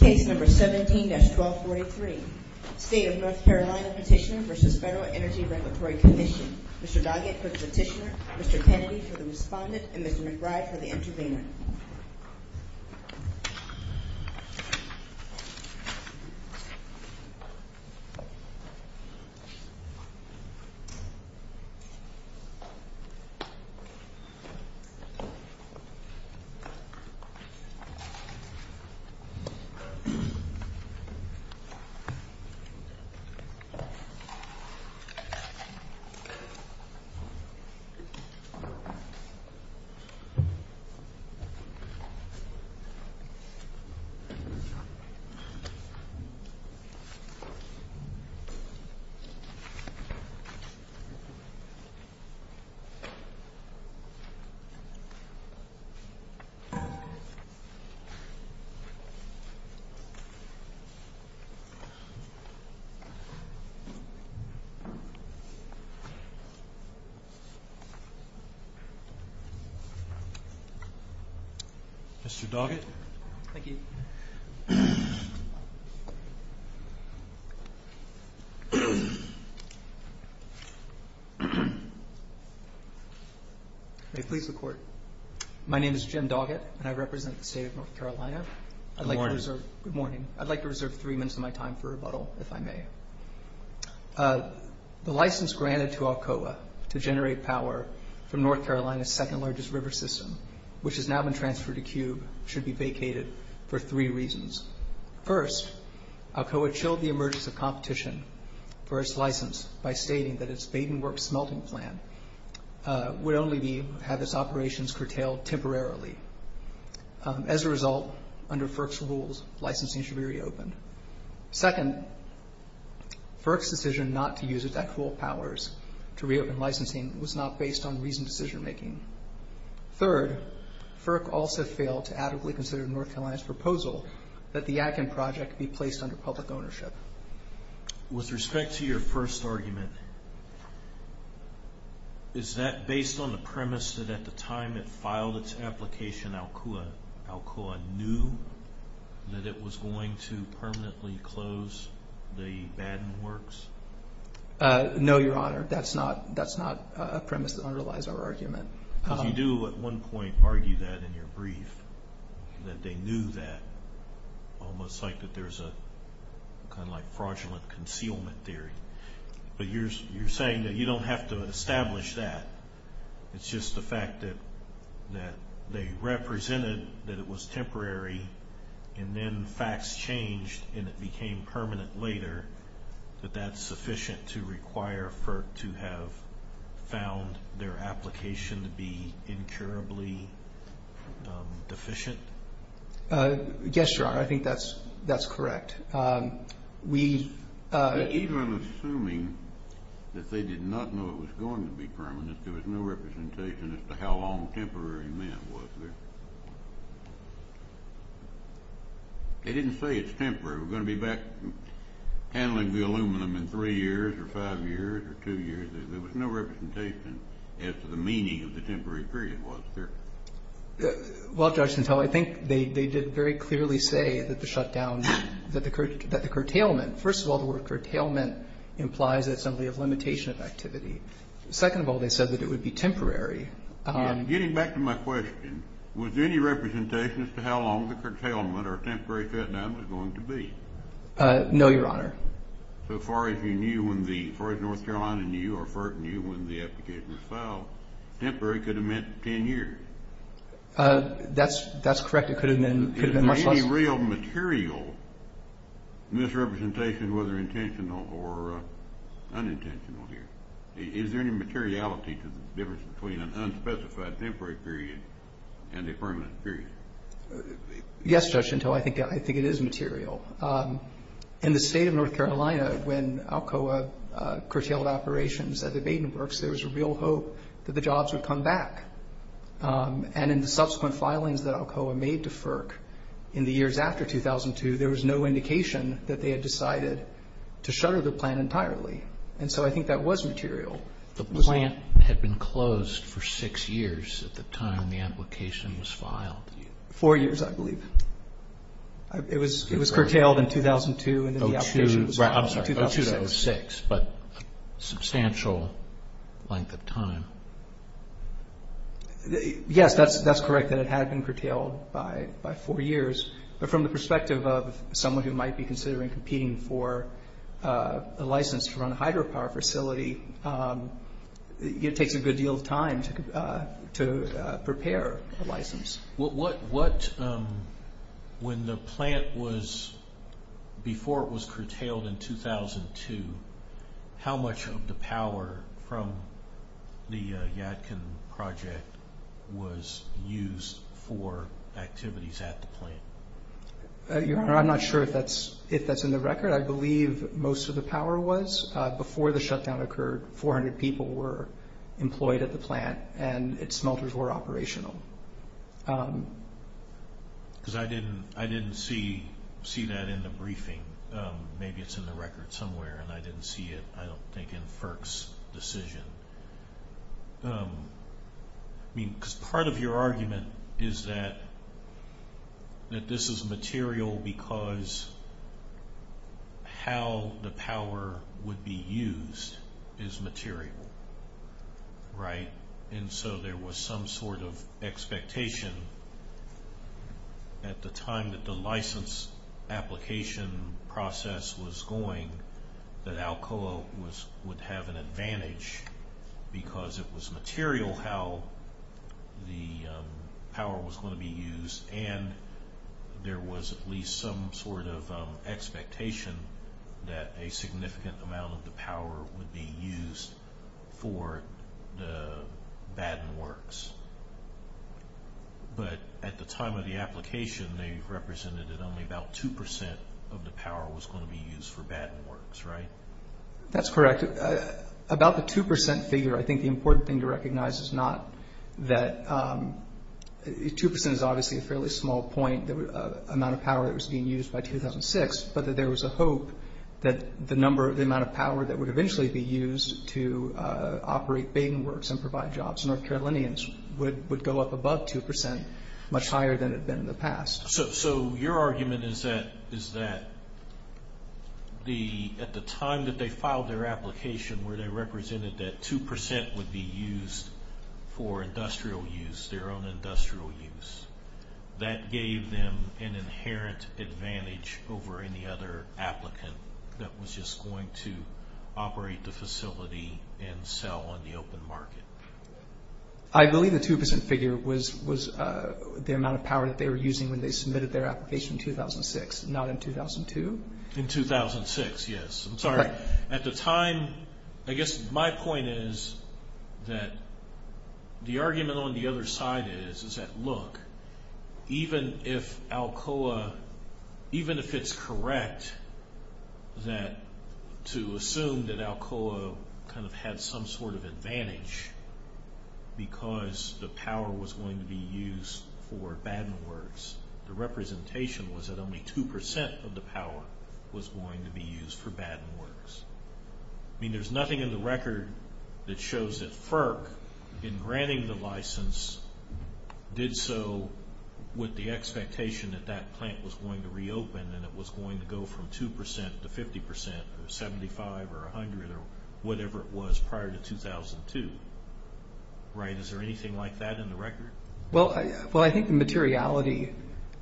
Case number 17-1243. State of North Carolina petitioner v. Federal Energy Regulatory Commission. Mr. Doggett for the petitioner, Mr. Kennedy for the respondent, and Mr. McBride for the intervener. Thank you. Mr. Doggett. Thank you. May it please the Court. My name is Jim Doggett, and I represent the State of North Carolina. Good morning. Good morning. I'd like to reserve three minutes of my time for rebuttal, if I may. The license granted to Alcoa to generate power from North Carolina's second-largest river system, which has now been transferred to Cube, should be vacated for three reasons. First, Alcoa chilled the emergence of competition for its license by stating that its Baden Works smelting plant would only have its operations curtailed temporarily. As a result, under FERC's rules, licensing should be reopened. Second, FERC's decision not to use its actual powers to reopen licensing was not based on reasoned decision-making. Third, FERC also failed to adequately consider North Carolina's proposal that the Atkin project be placed under public ownership. With respect to your first argument, is that based on the premise that at the time it filed its application, Alcoa knew that it was going to permanently close the Baden Works? No, Your Honor. That's not a premise that underlies our argument. Because you do at one point argue that in your brief, that they knew that, almost like that there's a kind of like fraudulent concealment theory. But you're saying that you don't have to establish that. It's just the fact that they represented that it was temporary and then facts changed and it became permanent later, that that's sufficient to require FERC to have found their application to be incurably deficient? Yes, Your Honor. I think that's correct. Even assuming that they did not know it was going to be permanent, there was no representation as to how long temporary meant, was there? They didn't say it's temporary. We're going to be back handling the aluminum in three years or five years or two years. There was no representation as to the meaning of the temporary period, was there? Well, Judge Cantell, I think they did very clearly say that the shutdown, that the curtailment, first of all, the word curtailment implies that it's something of limitation of activity. Second of all, they said that it would be temporary. Getting back to my question, was there any representation as to how long the curtailment or temporary shutdown was going to be? No, Your Honor. So far as North Carolina knew or FERC knew when the application was filed, temporary could have meant 10 years. That's correct. It could have been much less. Is there any real material misrepresentation, whether intentional or unintentional here? Is there any materiality to the difference between an unspecified temporary period and a permanent period? Yes, Judge Cantell, I think it is material. In the state of North Carolina, when Alcoa curtailed operations at the Baden Works, there was a real hope that the jobs would come back. And in the subsequent filings that Alcoa made to FERC in the years after 2002, there was no indication that they had decided to shutter the plant entirely. And so I think that was material. The plant had been closed for six years at the time the application was filed. Four years, I believe. It was curtailed in 2002, and then the application was filed in 2006. But a substantial length of time. Yes, that's correct, that it had been curtailed by four years. But from the perspective of someone who might be considering competing for a license to run a hydropower facility, it takes a good deal of time to prepare a license. When the plant was, before it was curtailed in 2002, how much of the power from the Yadkin project was used for activities at the plant? I'm not sure if that's in the record. I believe most of the power was. Before the shutdown occurred, 400 people were employed at the plant, and its smelters were operational. Because I didn't see that in the briefing. Maybe it's in the record somewhere, and I didn't see it, I don't think, in FERC's decision. I mean, because part of your argument is that this is material because how the power would be used is material, right? And so there was some sort of expectation at the time that the license application process was going that Alcoa would have an advantage because it was material how the power was going to be used, and there was at least some sort of expectation that a significant amount of the power would be used for the Batten Works. But at the time of the application, they represented that only about 2% of the power was going to be used for Batten Works, right? That's correct. About the 2% figure, I think the important thing to recognize is not that 2% is obviously a fairly small point, the amount of power that was being used by 2006, but that there was a hope that the amount of power that would eventually be used to operate Batten Works and provide jobs to North Carolinians would go up above 2%, much higher than it had been in the past. So your argument is that at the time that they filed their application, where they represented that 2% would be used for industrial use, their own industrial use, that gave them an inherent advantage over any other applicant that was just going to operate the facility and sell on the open market? I believe the 2% figure was the amount of power that they were using when they submitted their application in 2006, not in 2002. In 2006, yes. Correct. At the time, I guess my point is that the argument on the other side is that, look, even if it's correct to assume that Alcoa kind of had some sort of advantage because the power was going to be used for Batten Works, the representation was that only 2% of the power was going to be used for Batten Works. I mean, there's nothing in the record that shows that FERC, in granting the license, did so with the expectation that that plant was going to reopen and it was going to go from 2% to 50% or 75% or 100% or whatever it was prior to 2002, right? Is there anything like that in the record? Well, I think the materiality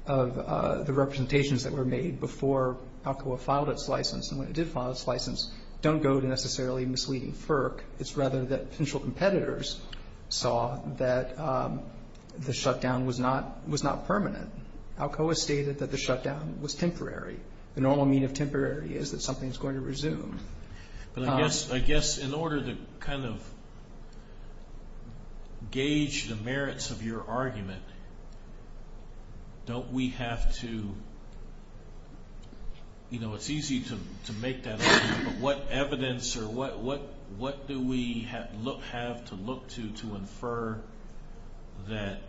of the representations that were made before Alcoa filed its license and when it did file its license don't go to necessarily misleading FERC. It's rather that potential competitors saw that the shutdown was not permanent. Alcoa stated that the shutdown was temporary. The normal mean of temporary is that something is going to resume. But I guess in order to kind of gauge the merits of your argument, don't we have to, you know, it's easy to make that argument, but what evidence or what do we have to look to to infer that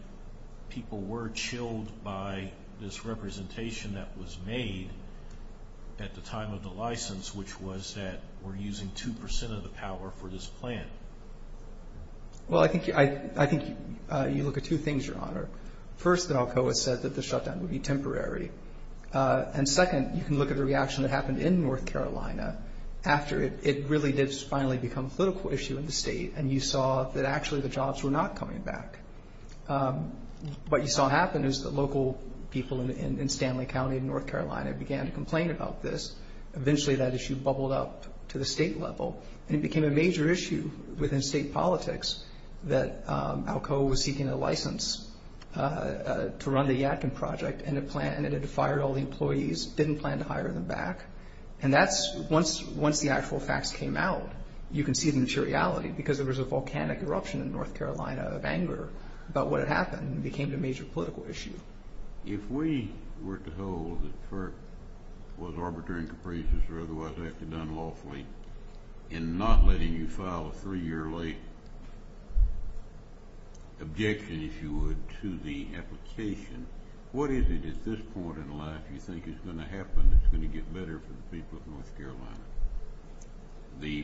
people were chilled by this representation that was made at the time of the license, which was that we're using 2% of the power for this plant? Well, I think you look at two things, Your Honor. First, Alcoa said that the shutdown would be temporary. And second, you can look at the reaction that happened in North Carolina after it really did finally become a political issue in the state and you saw that actually the jobs were not coming back. What you saw happen is that local people in Stanley County in North Carolina began to complain about this. Eventually that issue bubbled up to the state level and it became a major issue within state politics that Alcoa was seeking a license to run the Yadkin project and it had fired all the employees, didn't plan to hire them back. And that's once the actual facts came out, you can see the materiality because there was a volcanic eruption in North Carolina of anger about what had happened and it became a major political issue. If we were to hold that FERC was arbitrary and capricious or otherwise acted unlawfully in not letting you file a three-year late objection, if you would, to the application, what is it at this point in life you think is going to happen that's going to get better for the people of North Carolina? The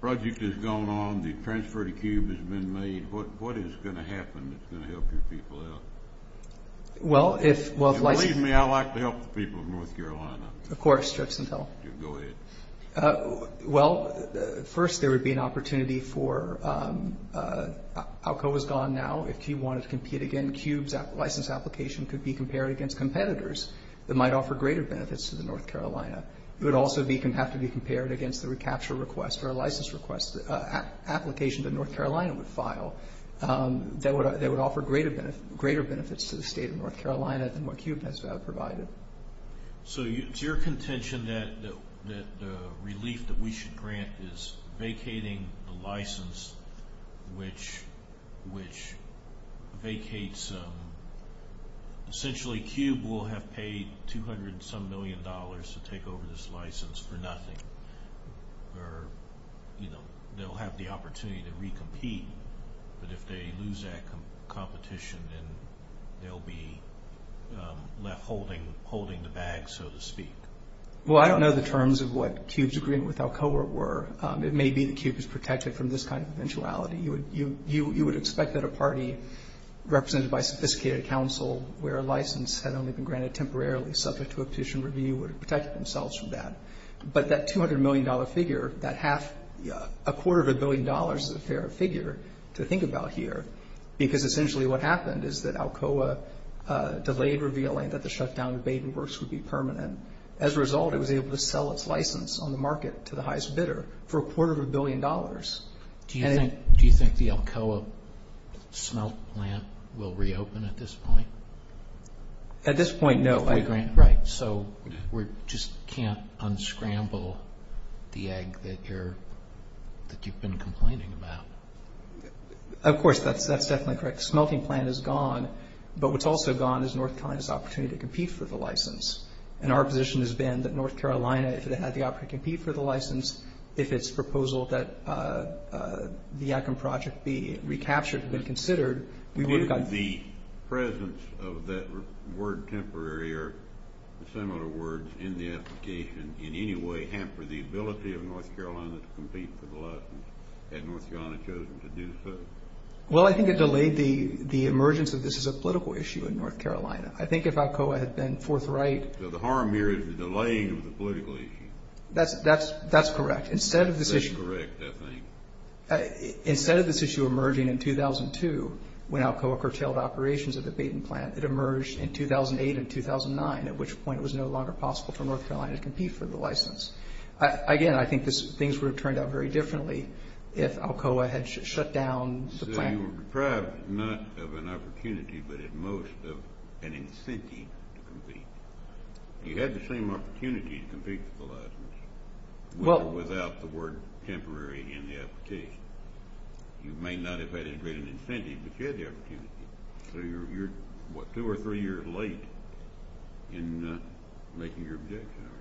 project has gone on, the transfer to CUBE has been made. What is going to happen that's going to help your people out? If you believe me, I'd like to help the people of North Carolina. Of course. Go ahead. Well, first there would be an opportunity for—Alcoa was gone now. If CUBE wanted to compete again, CUBE's license application could be compared against competitors that might offer greater benefits to North Carolina. It would also have to be compared against the recapture request or license request application that North Carolina would file that would offer greater benefits to the state of North Carolina than what CUBE has provided. So it's your contention that the relief that we should grant is vacating the license, which vacates—essentially CUBE will have paid 200-some million dollars to take over this license for nothing, or they'll have the opportunity to recompete. But if they lose that competition, then they'll be left holding the bag, so to speak. Well, I don't know the terms of what CUBE's agreement with Alcoa were. It may be that CUBE is protected from this kind of eventuality. You would expect that a party represented by sophisticated counsel where a license had only been granted temporarily subject to a petition review would have protected themselves from that. But that $200 million figure, that half—a quarter of a billion dollars is a fair figure to think about here, because essentially what happened is that Alcoa delayed revealing that the shutdown of Baden Works would be permanent. As a result, it was able to sell its license on the market to the highest bidder for a quarter of a billion dollars. Do you think the Alcoa smelt plant will reopen at this point? At this point, no. Right, so we just can't unscramble the egg that you've been complaining about. Of course, that's definitely correct. The smelting plant is gone, but what's also gone is North Carolina's opportunity to compete for the license. And our position has been that North Carolina, if it had the opportunity to compete for the license, if its proposal that the Atkin Project be recaptured had been considered, we would have gotten— Did the presence of that word temporary or similar words in the application in any way hamper the ability of North Carolina to compete for the license? Had North Carolina chosen to do so? Well, I think it delayed the emergence of this as a political issue in North Carolina. I think if Alcoa had been forthright— So the harm here is the delaying of the political issue. That's correct. That's correct, I think. Instead of this issue emerging in 2002 when Alcoa curtailed operations of the bait and plant, it emerged in 2008 and 2009, at which point it was no longer possible for North Carolina to compete for the license. Again, I think things would have turned out very differently if Alcoa had shut down the plant. So you were deprived, not of an opportunity, but at most of an incentive to compete. You had the same opportunity to compete for the license without the word temporary in the application. You may not have had as great an incentive, but you had the opportunity. So you're two or three years late in making your objection, aren't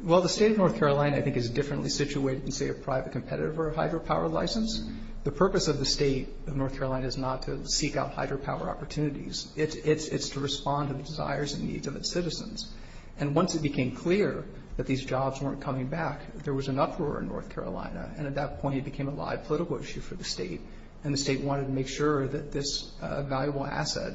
you? Well, the state of North Carolina, I think, is differently situated than, say, a private competitor for a hydropower license. The purpose of the state of North Carolina is not to seek out hydropower opportunities. It's to respond to the desires and needs of its citizens. And once it became clear that these jobs weren't coming back, there was an uproar in North Carolina, and at that point it became a live political issue for the state, and the state wanted to make sure that this valuable asset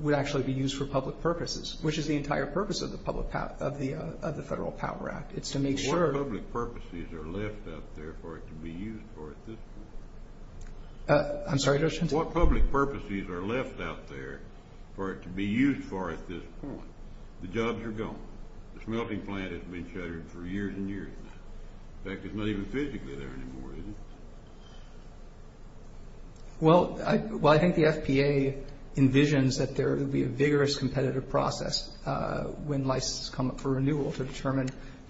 would actually be used for public purposes, which is the entire purpose of the Federal Power Act. It's to make sure. What public purposes are left out there for it to be used for at this point? I'm sorry, Judge Hinton? What public purposes are left out there for it to be used for at this point? The jobs are gone. The smelting plant has been shuttered for years and years now. In fact, it's not even physically there anymore, is it? Well, I think the FPA envisions that there will be a vigorous competitive process when licenses come up for renewal to determine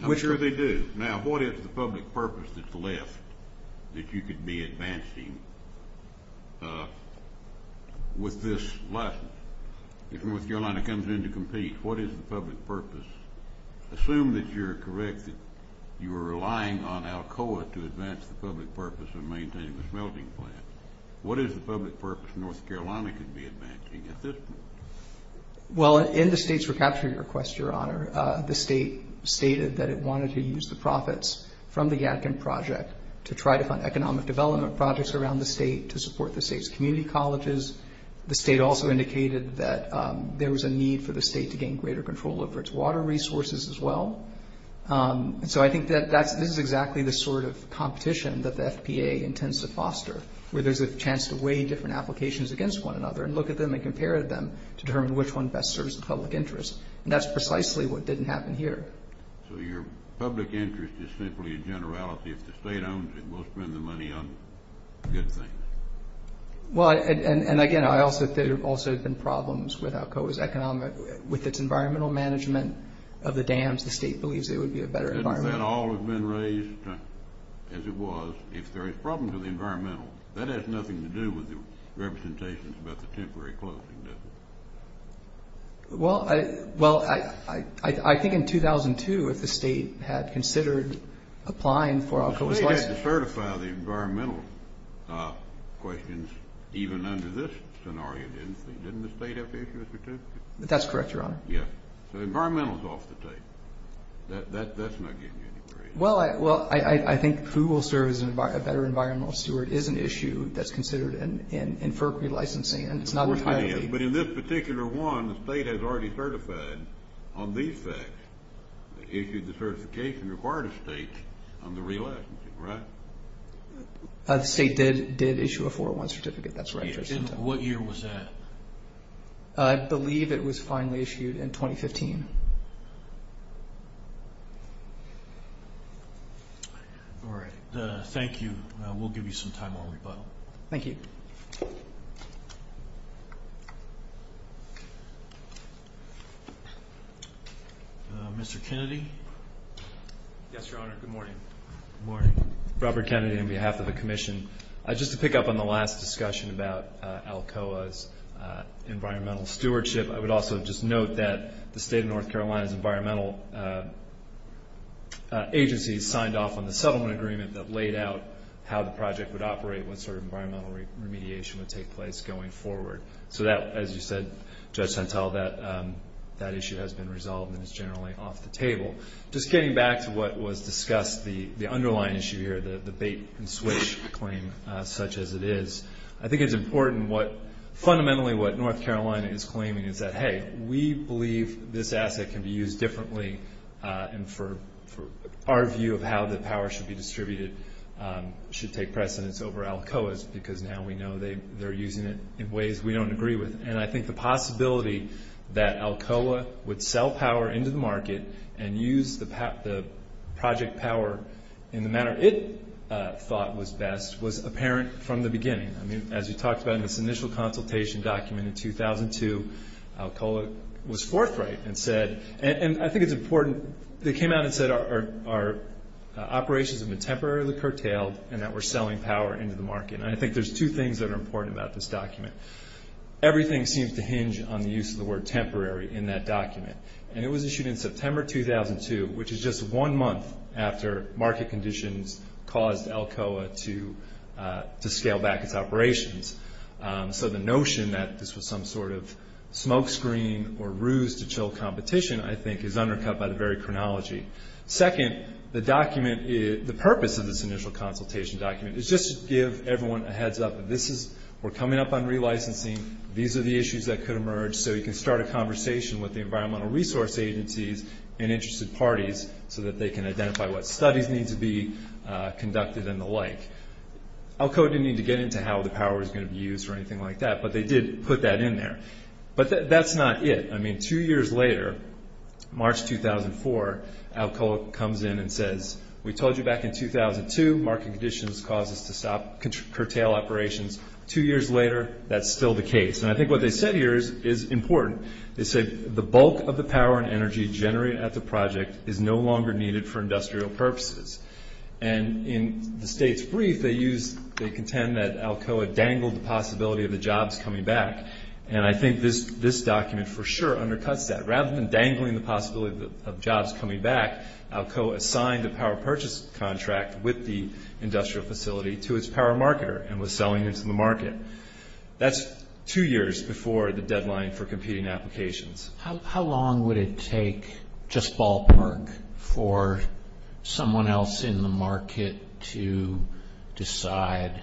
which are. I'm sure they do. Now, what is the public purpose that's left that you could be advancing with this license? If North Carolina comes in to compete, what is the public purpose? Assume that you're correct that you are relying on Alcoa to advance the public purpose of maintaining the smelting plant. What is the public purpose North Carolina could be advancing at this point? Well, in the state's recapture request, Your Honor, the state stated that it wanted to use the profits from the Yadkin project to try to fund economic development projects around the state to support the state's community colleges. The state also indicated that there was a need for the state to gain greater control over its water resources as well. And so I think that this is exactly the sort of competition that the FPA intends to foster, where there's a chance to weigh different applications against one another and look at them and compare them to determine which one best serves the public interest. And that's precisely what didn't happen here. So your public interest is simply a generality. If the state owns it, we'll spend the money on good things. Well, and again, there have also been problems with Alcoa's economic – with its environmental management of the dams. The state believes it would be a better environment. Doesn't that all have been raised as it was? If there is a problem with the environmental, that has nothing to do with the representations about the temporary closing, does it? Well, I think in 2002, if the state had considered applying for Alcoa's license – The state had to certify the environmental questions even under this scenario, didn't it? Didn't the state have to issue a certificate? That's correct, Your Honor. Yes. So environmental is off the tape. That's not getting any greater. Well, I think who will serve as a better environmental steward is an issue that's considered in FERC relicensing, and it's not entirely – But in this particular one, the state has already certified on these facts. It issued the certification required of the state on the relic, right? The state did issue a 401 certificate. That's right. And what year was that? I believe it was finally issued in 2015. All right. Thank you. We'll give you some time on rebuttal. Thank you. Mr. Kennedy? Yes, Your Honor. Good morning. Good morning. Robert Kennedy on behalf of the commission. Just to pick up on the last discussion about Alcoa's environmental stewardship, I would also just note that the state of North Carolina's environmental agencies signed off on the settlement agreement that laid out how the project would operate, what sort of environmental remediation would take place going forward. So that, as you said, Judge Santel, that issue has been resolved and is generally off the table. Just getting back to what was discussed, the underlying issue here, the bait-and-switch claim such as it is, I think it's important what fundamentally what North Carolina is claiming is that, hey, we believe this asset can be used differently and for our view of how the power should be distributed should take precedence over Alcoa's because now we know they're using it in ways we don't agree with. And I think the possibility that Alcoa would sell power into the market and use the project power in the manner it thought was best was apparent from the beginning. I mean, as we talked about in this initial consultation document in 2002, Alcoa was forthright and said, and I think it's important, they came out and said our operations have been temporarily curtailed and that we're selling power into the market. And I think there's two things that are important about this document. Everything seems to hinge on the use of the word temporary in that document. And it was issued in September 2002, which is just one month after market conditions caused Alcoa to scale back its operations. So the notion that this was some sort of smokescreen or ruse to chill competition, I think, is undercut by the very chronology. Second, the purpose of this initial consultation document is just to give everyone a heads-up. We're coming up on relicensing. These are the issues that could emerge. So you can start a conversation with the environmental resource agencies and interested parties so that they can identify what studies need to be conducted and the like. Alcoa didn't need to get into how the power was going to be used or anything like that, but they did put that in there. But that's not it. I mean, two years later, March 2004, Alcoa comes in and says, we told you back in 2002 market conditions caused us to stop, curtail operations. Two years later, that's still the case. And I think what they said here is important. They said, the bulk of the power and energy generated at the project is no longer needed for industrial purposes. And in the state's brief, they contend that Alcoa dangled the possibility of the jobs coming back. And I think this document for sure undercuts that. Rather than dangling the possibility of jobs coming back, Alcoa assigned a power purchase contract with the industrial facility to its power marketer and was selling it to the market. That's two years before the deadline for competing applications. How long would it take, just ballpark, for someone else in the market to decide,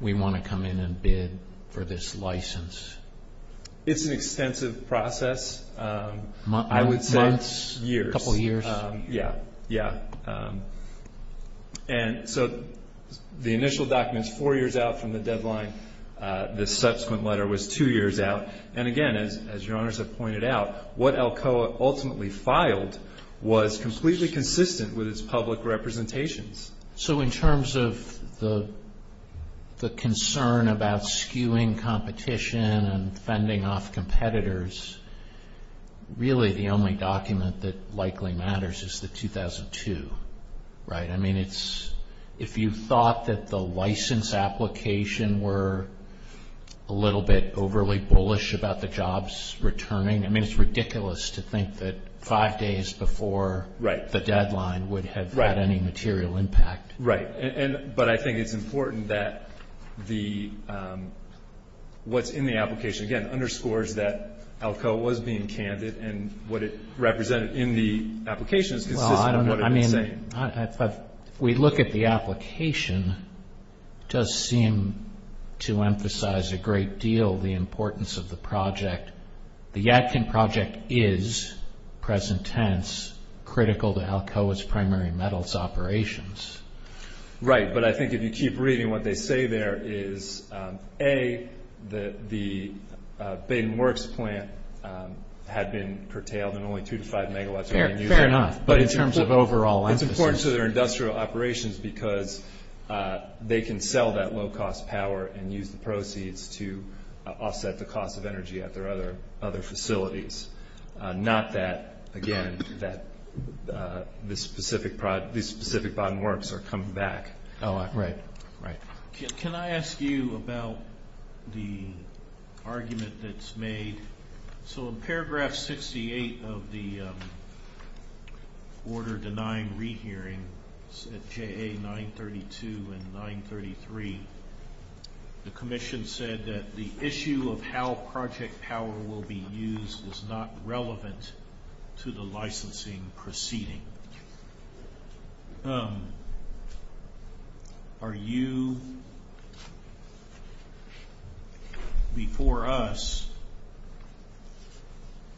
we want to come in and bid for this license? It's an extensive process. Months? I would say years. A couple years? Yeah, yeah. And so the initial document is four years out from the deadline. The subsequent letter was two years out. And again, as your honors have pointed out, what Alcoa ultimately filed was completely consistent with its public representations. So in terms of the concern about skewing competition and fending off competitors, really the only document that likely matters is the 2002, right? I mean, if you thought that the license application were a little bit overly bullish about the jobs returning, I mean, it's ridiculous to think that five days before the deadline would have had any material impact. Right. But I think it's important that what's in the application, again, underscores that Alcoa was being candid and what it represented in the application is consistent with what it was saying. If we look at the application, it does seem to emphasize a great deal the importance of the project. The Yadkin project is, present tense, critical to Alcoa's primary metals operations. Right. But I think if you keep reading what they say there is, A, the Bayden Works plant had been curtailed and only two to five megawatts were being used. Fair enough. But in terms of overall. It's important to their industrial operations because they can sell that low-cost power and use the proceeds to offset the cost of energy at their other facilities, not that, again, that these specific Bayden Works are coming back. Oh, right, right. Can I ask you about the argument that's made? So in paragraph 68 of the order denying rehearing, JA 932 and 933, the commission said that the issue of how project power will be used is not relevant to the licensing proceeding. Are you, before us,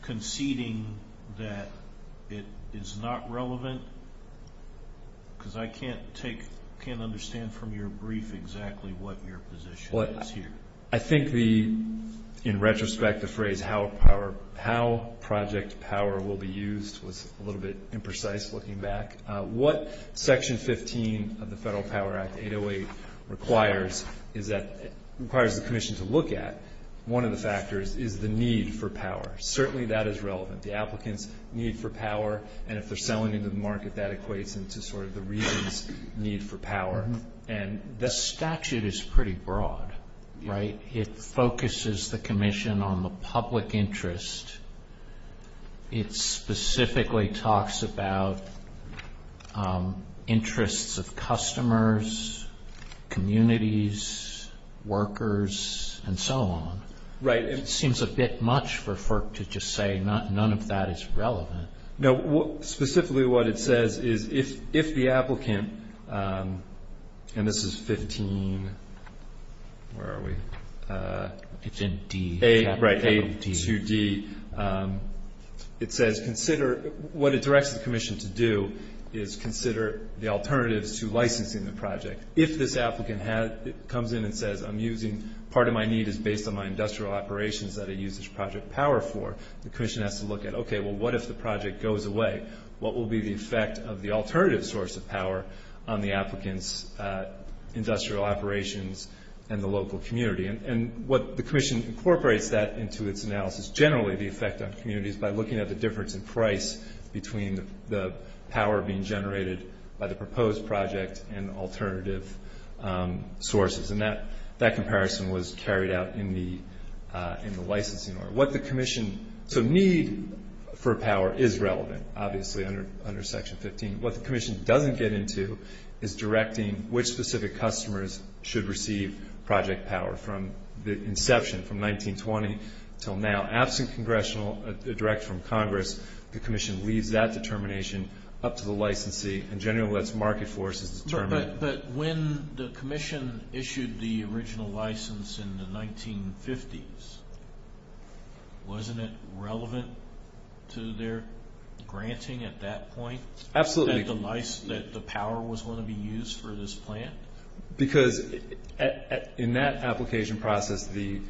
conceding that it is not relevant? Because I can't understand from your brief exactly what your position is here. I think, in retrospect, the phrase, how project power will be used was a little bit imprecise looking back. What Section 15 of the Federal Power Act 808 requires the commission to look at, one of the factors is the need for power. Certainly that is relevant. The applicants need for power, and if they're selling into the market that equates into sort of the region's need for power. The statute is pretty broad, right? It focuses the commission on the public interest. It specifically talks about interests of customers, communities, workers, and so on. Right. It seems a bit much for FERC to just say none of that is relevant. No. Specifically what it says is if the applicant, and this is 15, where are we? It's in D. Right, A to D. It says consider what it directs the commission to do is consider the alternatives to licensing the project. If this applicant comes in and says, I'm using part of my need is based on my industrial operations that I use this project power for, the commission has to look at, okay, well, what if the project goes away? What will be the effect of the alternative source of power on the applicant's industrial operations and the local community? And what the commission incorporates that into its analysis, generally the effect on communities by looking at the difference in price between the power being generated by the proposed project and alternative sources. And that comparison was carried out in the licensing order. What the commission, so need for power is relevant, obviously, under Section 15. What the commission doesn't get into is directing which specific customers should receive project power from the inception, from 1920 until now. Absent congressional direct from Congress, the commission leaves that determination up to the licensee and generally lets market forces determine. But when the commission issued the original license in the 1950s, wasn't it relevant to their granting at that point? Absolutely. That the power was going to be used for this plant? Because in that application process, the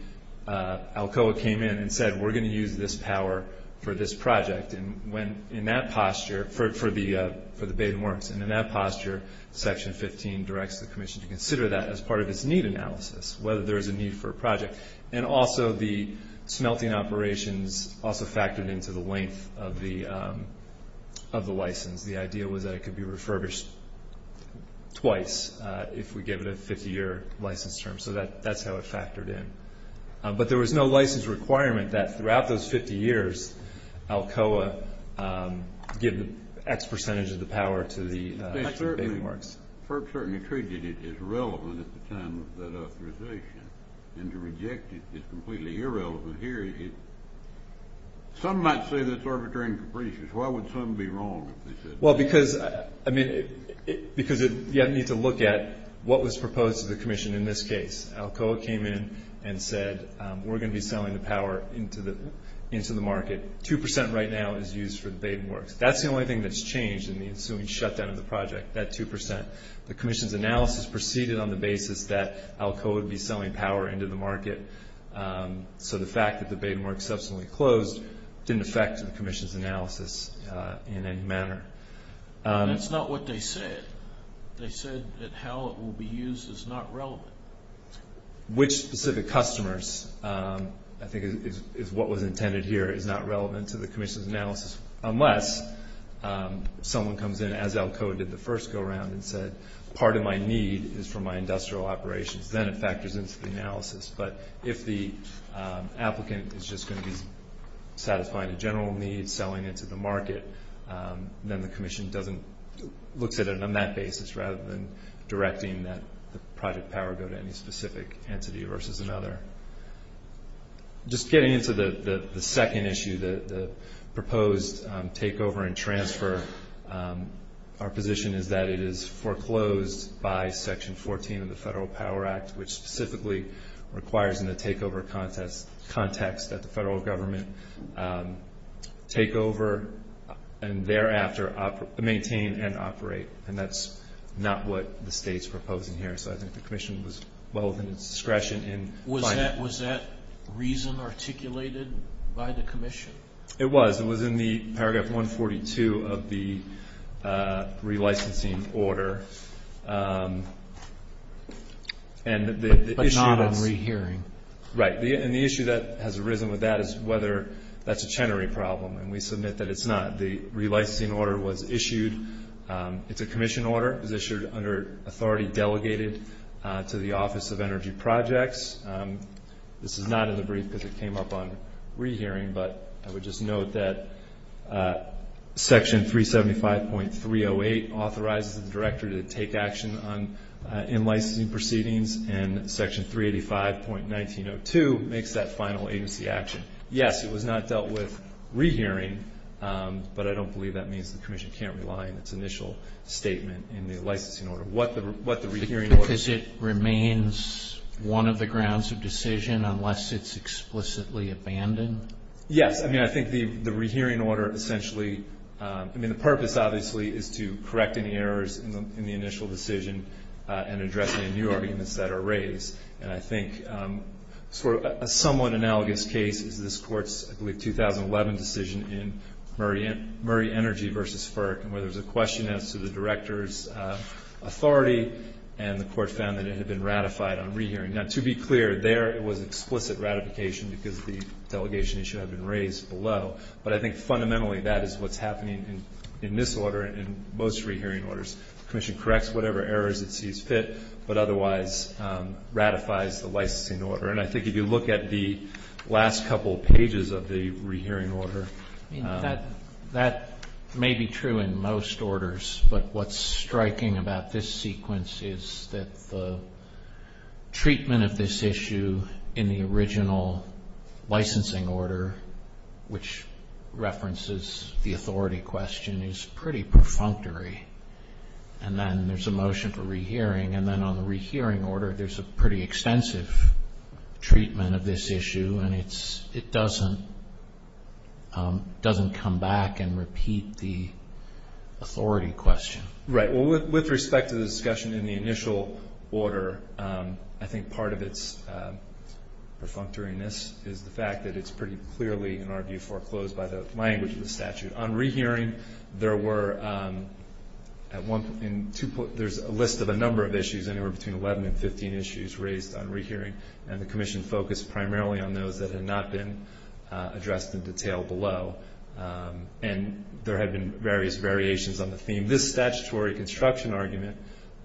ALCOA came in and said we're going to use this power for this project. And in that posture, for the Baden works, and in that posture Section 15 directs the commission to consider that as part of its need analysis, whether there is a need for a project. And also the smelting operations also factored into the length of the license. The idea was that it could be refurbished twice if we give it a 50-year license term. So that's how it factored in. But there was no license requirement that throughout those 50 years, ALCOA give X percentage of the power to the Baden works. FERB certainly treated it as relevant at the time of that authorization. And to reject it is completely irrelevant here. Some might say that's arbitrary and capricious. Why would some be wrong if they said that? Well, because, I mean, because you have to look at what was proposed to the commission in this case. ALCOA came in and said, we're going to be selling the power into the market. Two percent right now is used for the Baden works. That's the only thing that's changed in the ensuing shutdown of the project, that two percent. The commission's analysis proceeded on the basis that ALCOA would be selling power into the market. So the fact that the Baden works subsequently closed didn't affect the commission's analysis in any manner. That's not what they said. They said that how it will be used is not relevant. Which specific customers, I think is what was intended here, is not relevant to the commission's analysis, unless someone comes in, as ALCOA did the first go-around, and said part of my need is for my industrial operations. Then it factors into the analysis. But if the applicant is just going to be satisfying a general need, selling it to the market, then the commission looks at it on that basis, rather than directing that the project power go to any specific entity versus another. Just getting into the second issue, the proposed takeover and transfer, our position is that it is foreclosed by Section 14 of the Federal Power Act, which specifically requires in the takeover context that the federal government take over and thereafter maintain and operate. And that's not what the state's proposing here. So I think the commission was well within its discretion in finding it. Was that reason articulated by the commission? It was. It was in the paragraph 142 of the relicensing order. But not on rehearing. Right. And the issue that has arisen with that is whether that's a Chenery problem, and we submit that it's not. The relicensing order was issued. It's a commission order. It was issued under authority delegated to the Office of Energy Projects. This is not in the brief because it came up on rehearing, but I would just note that Section 375.308 authorizes the director to take action in licensing proceedings, and Section 385.1902 makes that final agency action. Yes, it was not dealt with rehearing, but I don't believe that means the commission can't rely on its initial statement in the licensing order. Because it remains one of the grounds of decision unless it's explicitly abandoned? Yes. I mean, I think the rehearing order essentially, I mean, the purpose obviously is to correct any errors in the initial decision and address any new arguments that are raised. And I think sort of a somewhat analogous case is this Court's, I believe, 2011 decision in Murray Energy v. FERC, where there was a question as to the director's authority, and the Court found that it had been ratified on rehearing. Now, to be clear, there it was explicit ratification because the delegation issue had been raised below. But I think fundamentally that is what's happening in this order and most rehearing orders. The commission corrects whatever errors it sees fit, but otherwise ratifies the licensing order. And I think if you look at the last couple pages of the rehearing order. I mean, that may be true in most orders, but what's striking about this sequence is that the treatment of this issue in the original licensing order, which references the authority question, is pretty perfunctory. And then there's a motion for rehearing, and then on the rehearing order, there's a pretty extensive treatment of this issue, and it doesn't come back and repeat the authority question. Right. Well, with respect to the discussion in the initial order, I think part of its perfunctoriness is the fact that it's pretty clearly, in our view, foreclosed by the language of the statute. On rehearing, there's a list of a number of issues anywhere between 11 and 15 issues raised on rehearing, and the commission focused primarily on those that had not been addressed in detail below. And there had been various variations on the theme. In this statutory construction argument,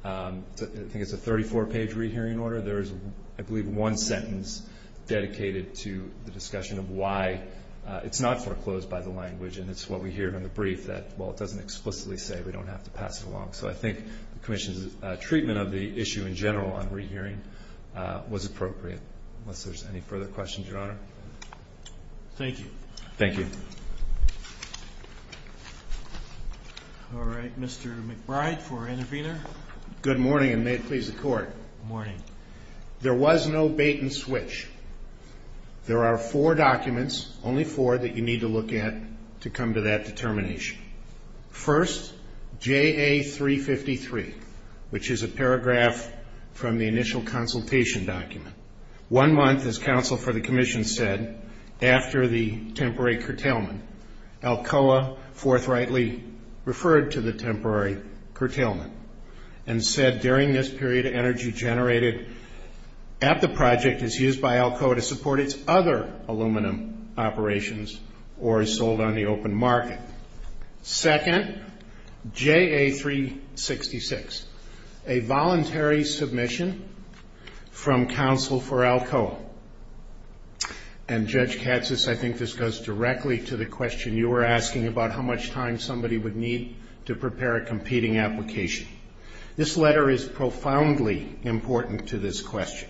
I think it's a 34-page rehearing order. There is, I believe, one sentence dedicated to the discussion of why it's not foreclosed by the language, and it's what we hear in the brief that, well, it doesn't explicitly say we don't have to pass it along. So I think the commission's treatment of the issue in general on rehearing was appropriate, unless there's any further questions, Your Honor. Thank you. Thank you. All right. Mr. McBride for intervener. Good morning, and may it please the Court. Good morning. There was no bait and switch. There are four documents, only four, that you need to look at to come to that determination. First, JA353, which is a paragraph from the initial consultation document. One month, as counsel for the commission said, after the temporary curtailment, Alcoa forthrightly referred to the temporary curtailment and said during this period energy generated at the project is used by Alcoa to support its other aluminum operations or is sold on the open market. Second, JA366, a voluntary submission from counsel for Alcoa. And, Judge Katsas, I think this goes directly to the question you were asking about how much time somebody would need to prepare a competing application. This letter is profoundly important to this question,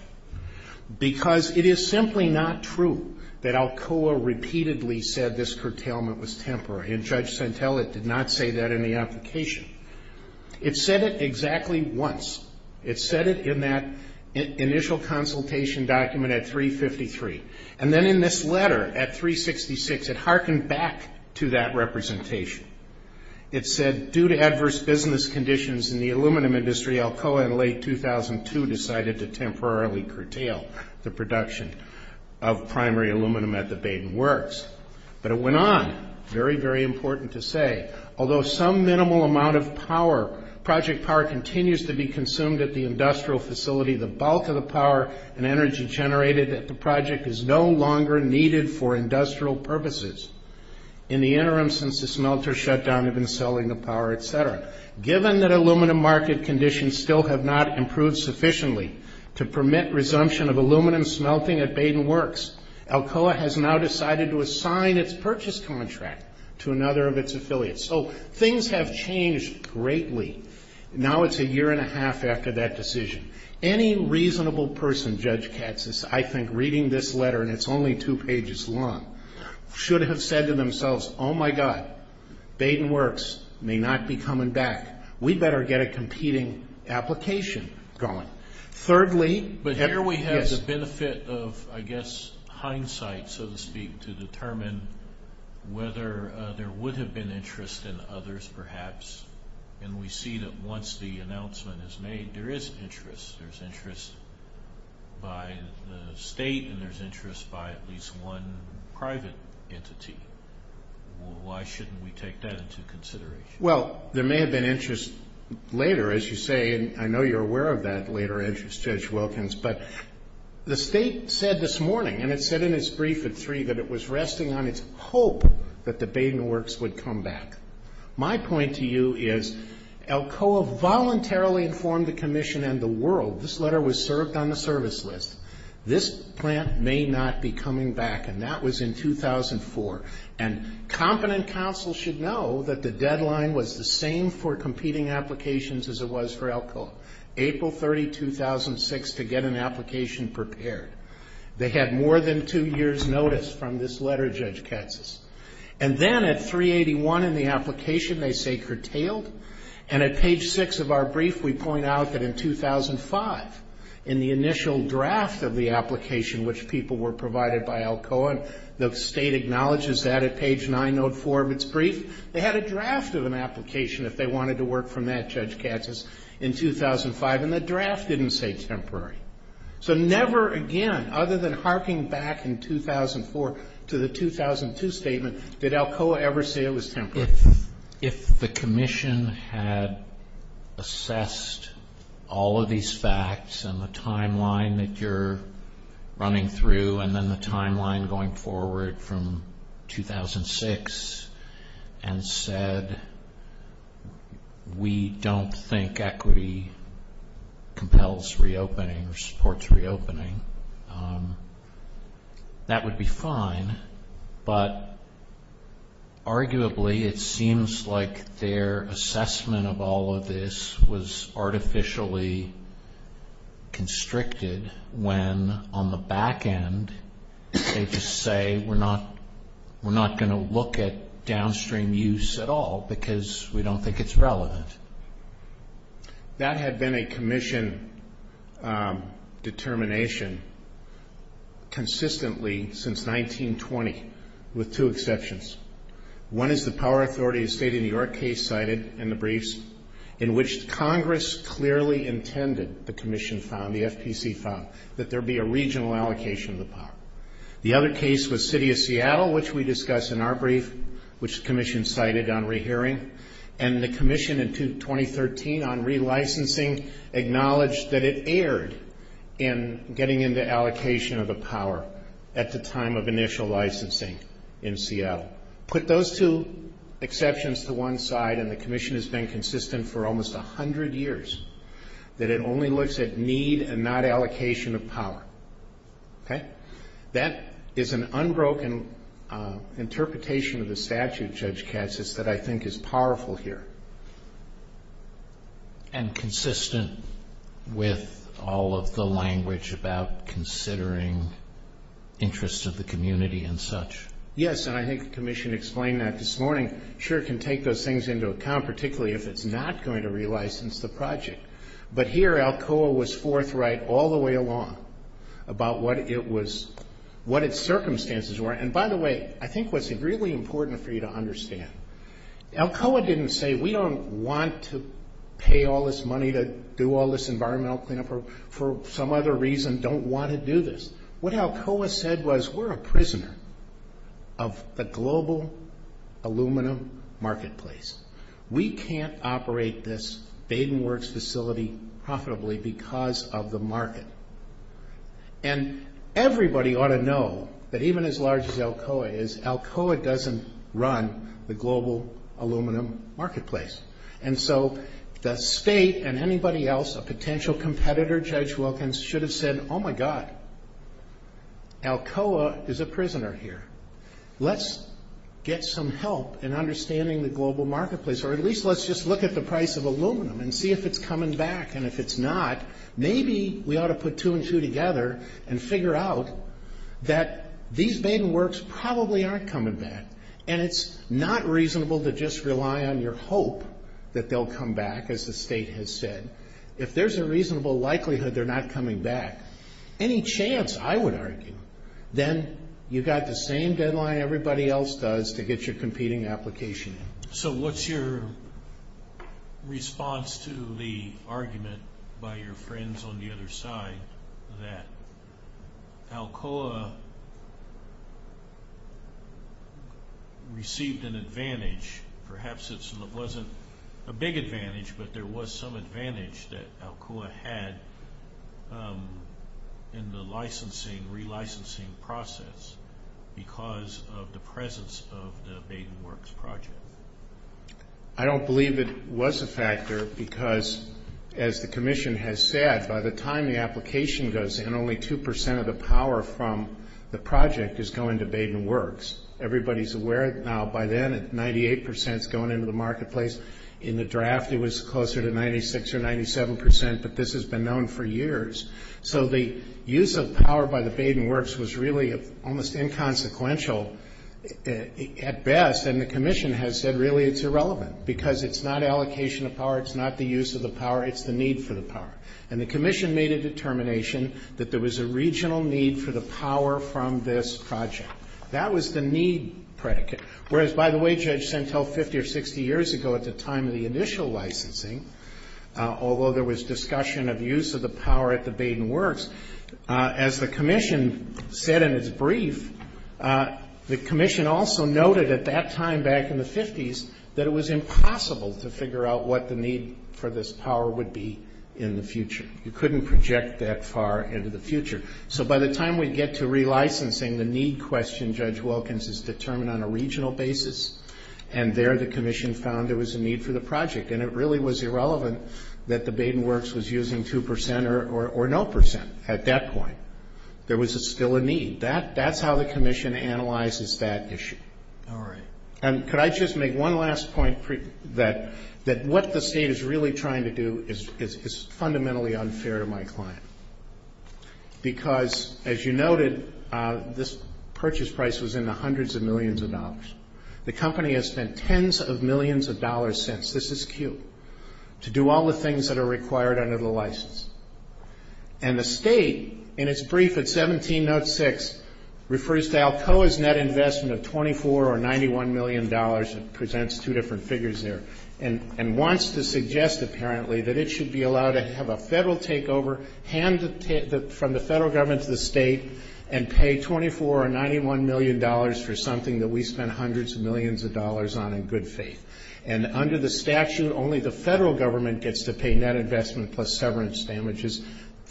because it is simply not true that Alcoa repeatedly said this curtailment was temporary, and Judge Centella did not say that in the application. It said it exactly once. It said it in that initial consultation document at 353. And then in this letter at 366, it harkened back to that representation. It said due to adverse business conditions in the aluminum industry, Alcoa in late 2002 decided to temporarily curtail the production of primary aluminum at the Baden Works. But it went on. Very, very important to say. Although some minimal amount of power, project power, continues to be consumed at the industrial facility, the bulk of the power and energy generated at the project is no longer needed for industrial purposes. In the interim, since the smelter shutdown, they've been selling the power, etc. Given that aluminum market conditions still have not improved sufficiently to permit resumption of aluminum smelting at Baden Works, Alcoa has now decided to assign its purchase contract to another of its affiliates. So things have changed greatly. Now it's a year and a half after that decision. Any reasonable person, Judge Katsas, I think reading this letter, and it's only two pages long, should have said to themselves, oh my God, Baden Works may not be coming back. We'd better get a competing application going. Thirdly, But here we have the benefit of, I guess, hindsight, so to speak, to determine whether there would have been interest in others perhaps. And we see that once the announcement is made, there is interest. There's interest by the state and there's interest by at least one private entity. Why shouldn't we take that into consideration? Well, there may have been interest later, as you say, and I know you're aware of that later interest, Judge Wilkins. But the state said this morning, and it said in its brief at three, that it was resting on its hope that the Baden Works would come back. My point to you is, ALCOA voluntarily informed the Commission and the world, this letter was served on the service list, this plant may not be coming back. And that was in 2004. And competent counsel should know that the deadline was the same for competing applications as it was for ALCOA, April 30, 2006, to get an application prepared. They had more than two years' notice from this letter, Judge Katsas. And then at 381 in the application, they say curtailed. And at page 6 of our brief, we point out that in 2005, in the initial draft of the application which people were provided by ALCOA, the state acknowledges that at page 9, note 4 of its brief. They had a draft of an application if they wanted to work from that, Judge Katsas, in 2005, and the draft didn't say temporary. So never again, other than harking back in 2004 to the 2002 statement, did ALCOA ever say it was temporary. If the Commission had assessed all of these facts and the timeline that you're running through and then the timeline going forward from 2006 and said we don't think equity compels reopening or supports reopening, that would be fine. But arguably, it seems like their assessment of all of this was artificially constricted when on the back end, they just say we're not going to look at downstream use at all because we don't think it's relevant. That had been a Commission determination consistently since 1920 with two exceptions. One is the Power Authority of the State of New York case cited in the briefs in which Congress clearly intended, the Commission found, the FPC found, that there be a regional allocation of the power. The other case was City of Seattle, which we discuss in our brief, which the Commission cited on rehearing, and the Commission in 2013 on relicensing acknowledged that it erred in getting into allocation of the power at the time of initial licensing in Seattle. Put those two exceptions to one side and the Commission has been consistent for almost 100 years that it only looks at need and not allocation of power. That is an unbroken interpretation of the statute, Judge Katz, that I think is powerful here. And consistent with all of the language about considering interest of the community and such. Yes, and I think the Commission explained that this morning. Sure, it can take those things into account, particularly if it's not going to relicense the project. But here, ALCOA was forthright all the way along about what its circumstances were. And by the way, I think what's really important for you to understand, ALCOA didn't say we don't want to pay all this money to do all this environmental cleanup or for some other reason don't want to do this. What ALCOA said was we're a prisoner of the global aluminum marketplace. We can't operate this Baden Works facility profitably because of the market. And everybody ought to know that even as large as ALCOA is, ALCOA doesn't run the global aluminum marketplace. And so the state and anybody else, a potential competitor, Judge Wilkins, should have said, oh, my God, ALCOA is a prisoner here. Let's get some help in understanding the global marketplace, or at least let's just look at the price of aluminum and see if it's coming back. And if it's not, maybe we ought to put two and two together and figure out that these Baden Works probably aren't coming back. And it's not reasonable to just rely on your hope that they'll come back, as the state has said. If there's a reasonable likelihood they're not coming back, any chance, I would argue, then you've got the same deadline everybody else does to get your competing application in. So what's your response to the argument by your friends on the other side Perhaps it wasn't a big advantage, but there was some advantage that ALCOA had in the licensing, relicensing process because of the presence of the Baden Works project. I don't believe it was a factor because, as the commission has said, by the time the application goes in, only 2% of the power from the project is going to Baden Works. Everybody's aware now by then that 98% is going into the marketplace. In the draft, it was closer to 96% or 97%, but this has been known for years. So the use of power by the Baden Works was really almost inconsequential at best, and the commission has said really it's irrelevant because it's not allocation of power, it's not the use of the power, it's the need for the power. And the commission made a determination that there was a regional need for the power from this project. That was the need predicate. Whereas, by the way, Judge Sentel, 50 or 60 years ago at the time of the initial licensing, although there was discussion of use of the power at the Baden Works, as the commission said in its brief, the commission also noted at that time back in the 50s that it was impossible to figure out what the need for this power would be in the future. You couldn't project that far into the future. So by the time we get to relicensing, the need question, Judge Wilkins, is determined on a regional basis, and there the commission found there was a need for the project. And it really was irrelevant that the Baden Works was using 2% or no percent at that point. There was still a need. That's how the commission analyzes that issue. And could I just make one last point that what the State is really trying to do is fundamentally unfair to my client. Because, as you noted, this purchase price was in the hundreds of millions of dollars. The company has spent tens of millions of dollars since, this is Q, to do all the things that are required under the license. And the State, in its brief at 17.06, refers to Alcoa's net investment of $24 or $91 million. It presents two different figures there. And wants to suggest, apparently, that it should be allowed to have a Federal takeover, hand from the Federal Government to the State, and pay $24 or $91 million for something that we spent hundreds of millions of dollars on in good faith. And under the statute, only the Federal Government gets to pay net investment plus severance damages.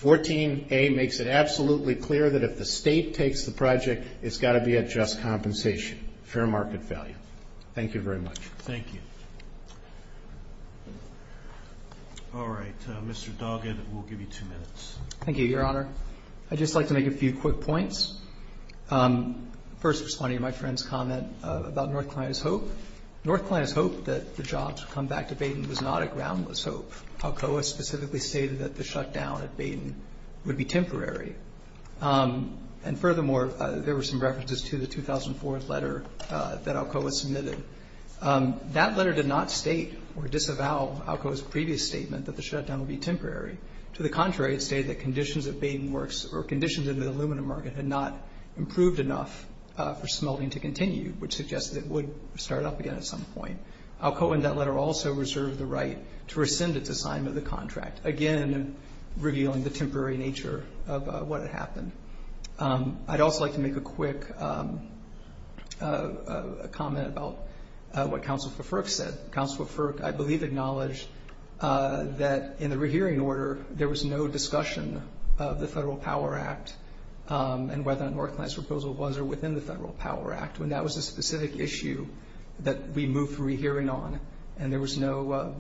14A makes it absolutely clear that if the State takes the project, it's got to be at just compensation, fair market value. Thank you very much. Thank you. All right. Mr. Doggett, we'll give you two minutes. Thank you, Your Honor. I'd just like to make a few quick points. First, responding to my friend's comment about North Carolina's hope. North Carolina's hope that the jobs would come back to Baden was not a groundless hope. Alcoa specifically stated that the shutdown at Baden would be temporary. And furthermore, there were some references to the 2004 letter that Alcoa submitted. That letter did not state or disavow Alcoa's previous statement that the shutdown would be temporary. To the contrary, it stated that conditions at Baden Works, or conditions in the aluminum market, had not improved enough for smelting to continue, which suggested it would start up again at some point. Alcoa in that letter also reserved the right to rescind its assignment of the contract, again revealing the temporary nature of what had happened. I'd also like to make a quick comment about what Counselor Fork said. Counselor Fork, I believe, acknowledged that in the rehearing order, there was no discussion of the Federal Power Act and whether North Carolina's proposal was within the Federal Power Act, when that was a specific issue that we moved from rehearing on, and there was no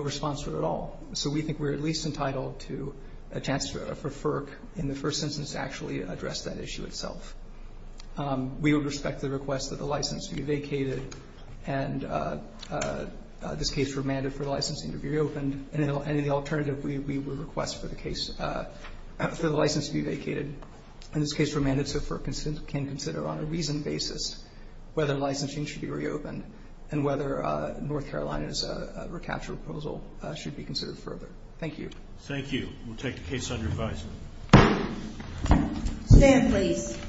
response to it at all. So we think we're at least entitled to a chance for FERC, in the first instance, to actually address that issue itself. We would respect the request that the license be vacated, and this case remanded for the licensing to be reopened. And in the alternative, we would request for the case, for the license to be vacated. And this case remanded so FERC can consider on a reasoned basis whether licensing should be reopened and whether North Carolina's recapture proposal should be considered further. Thank you. Thank you. We'll take the case under advisement. Stand, please.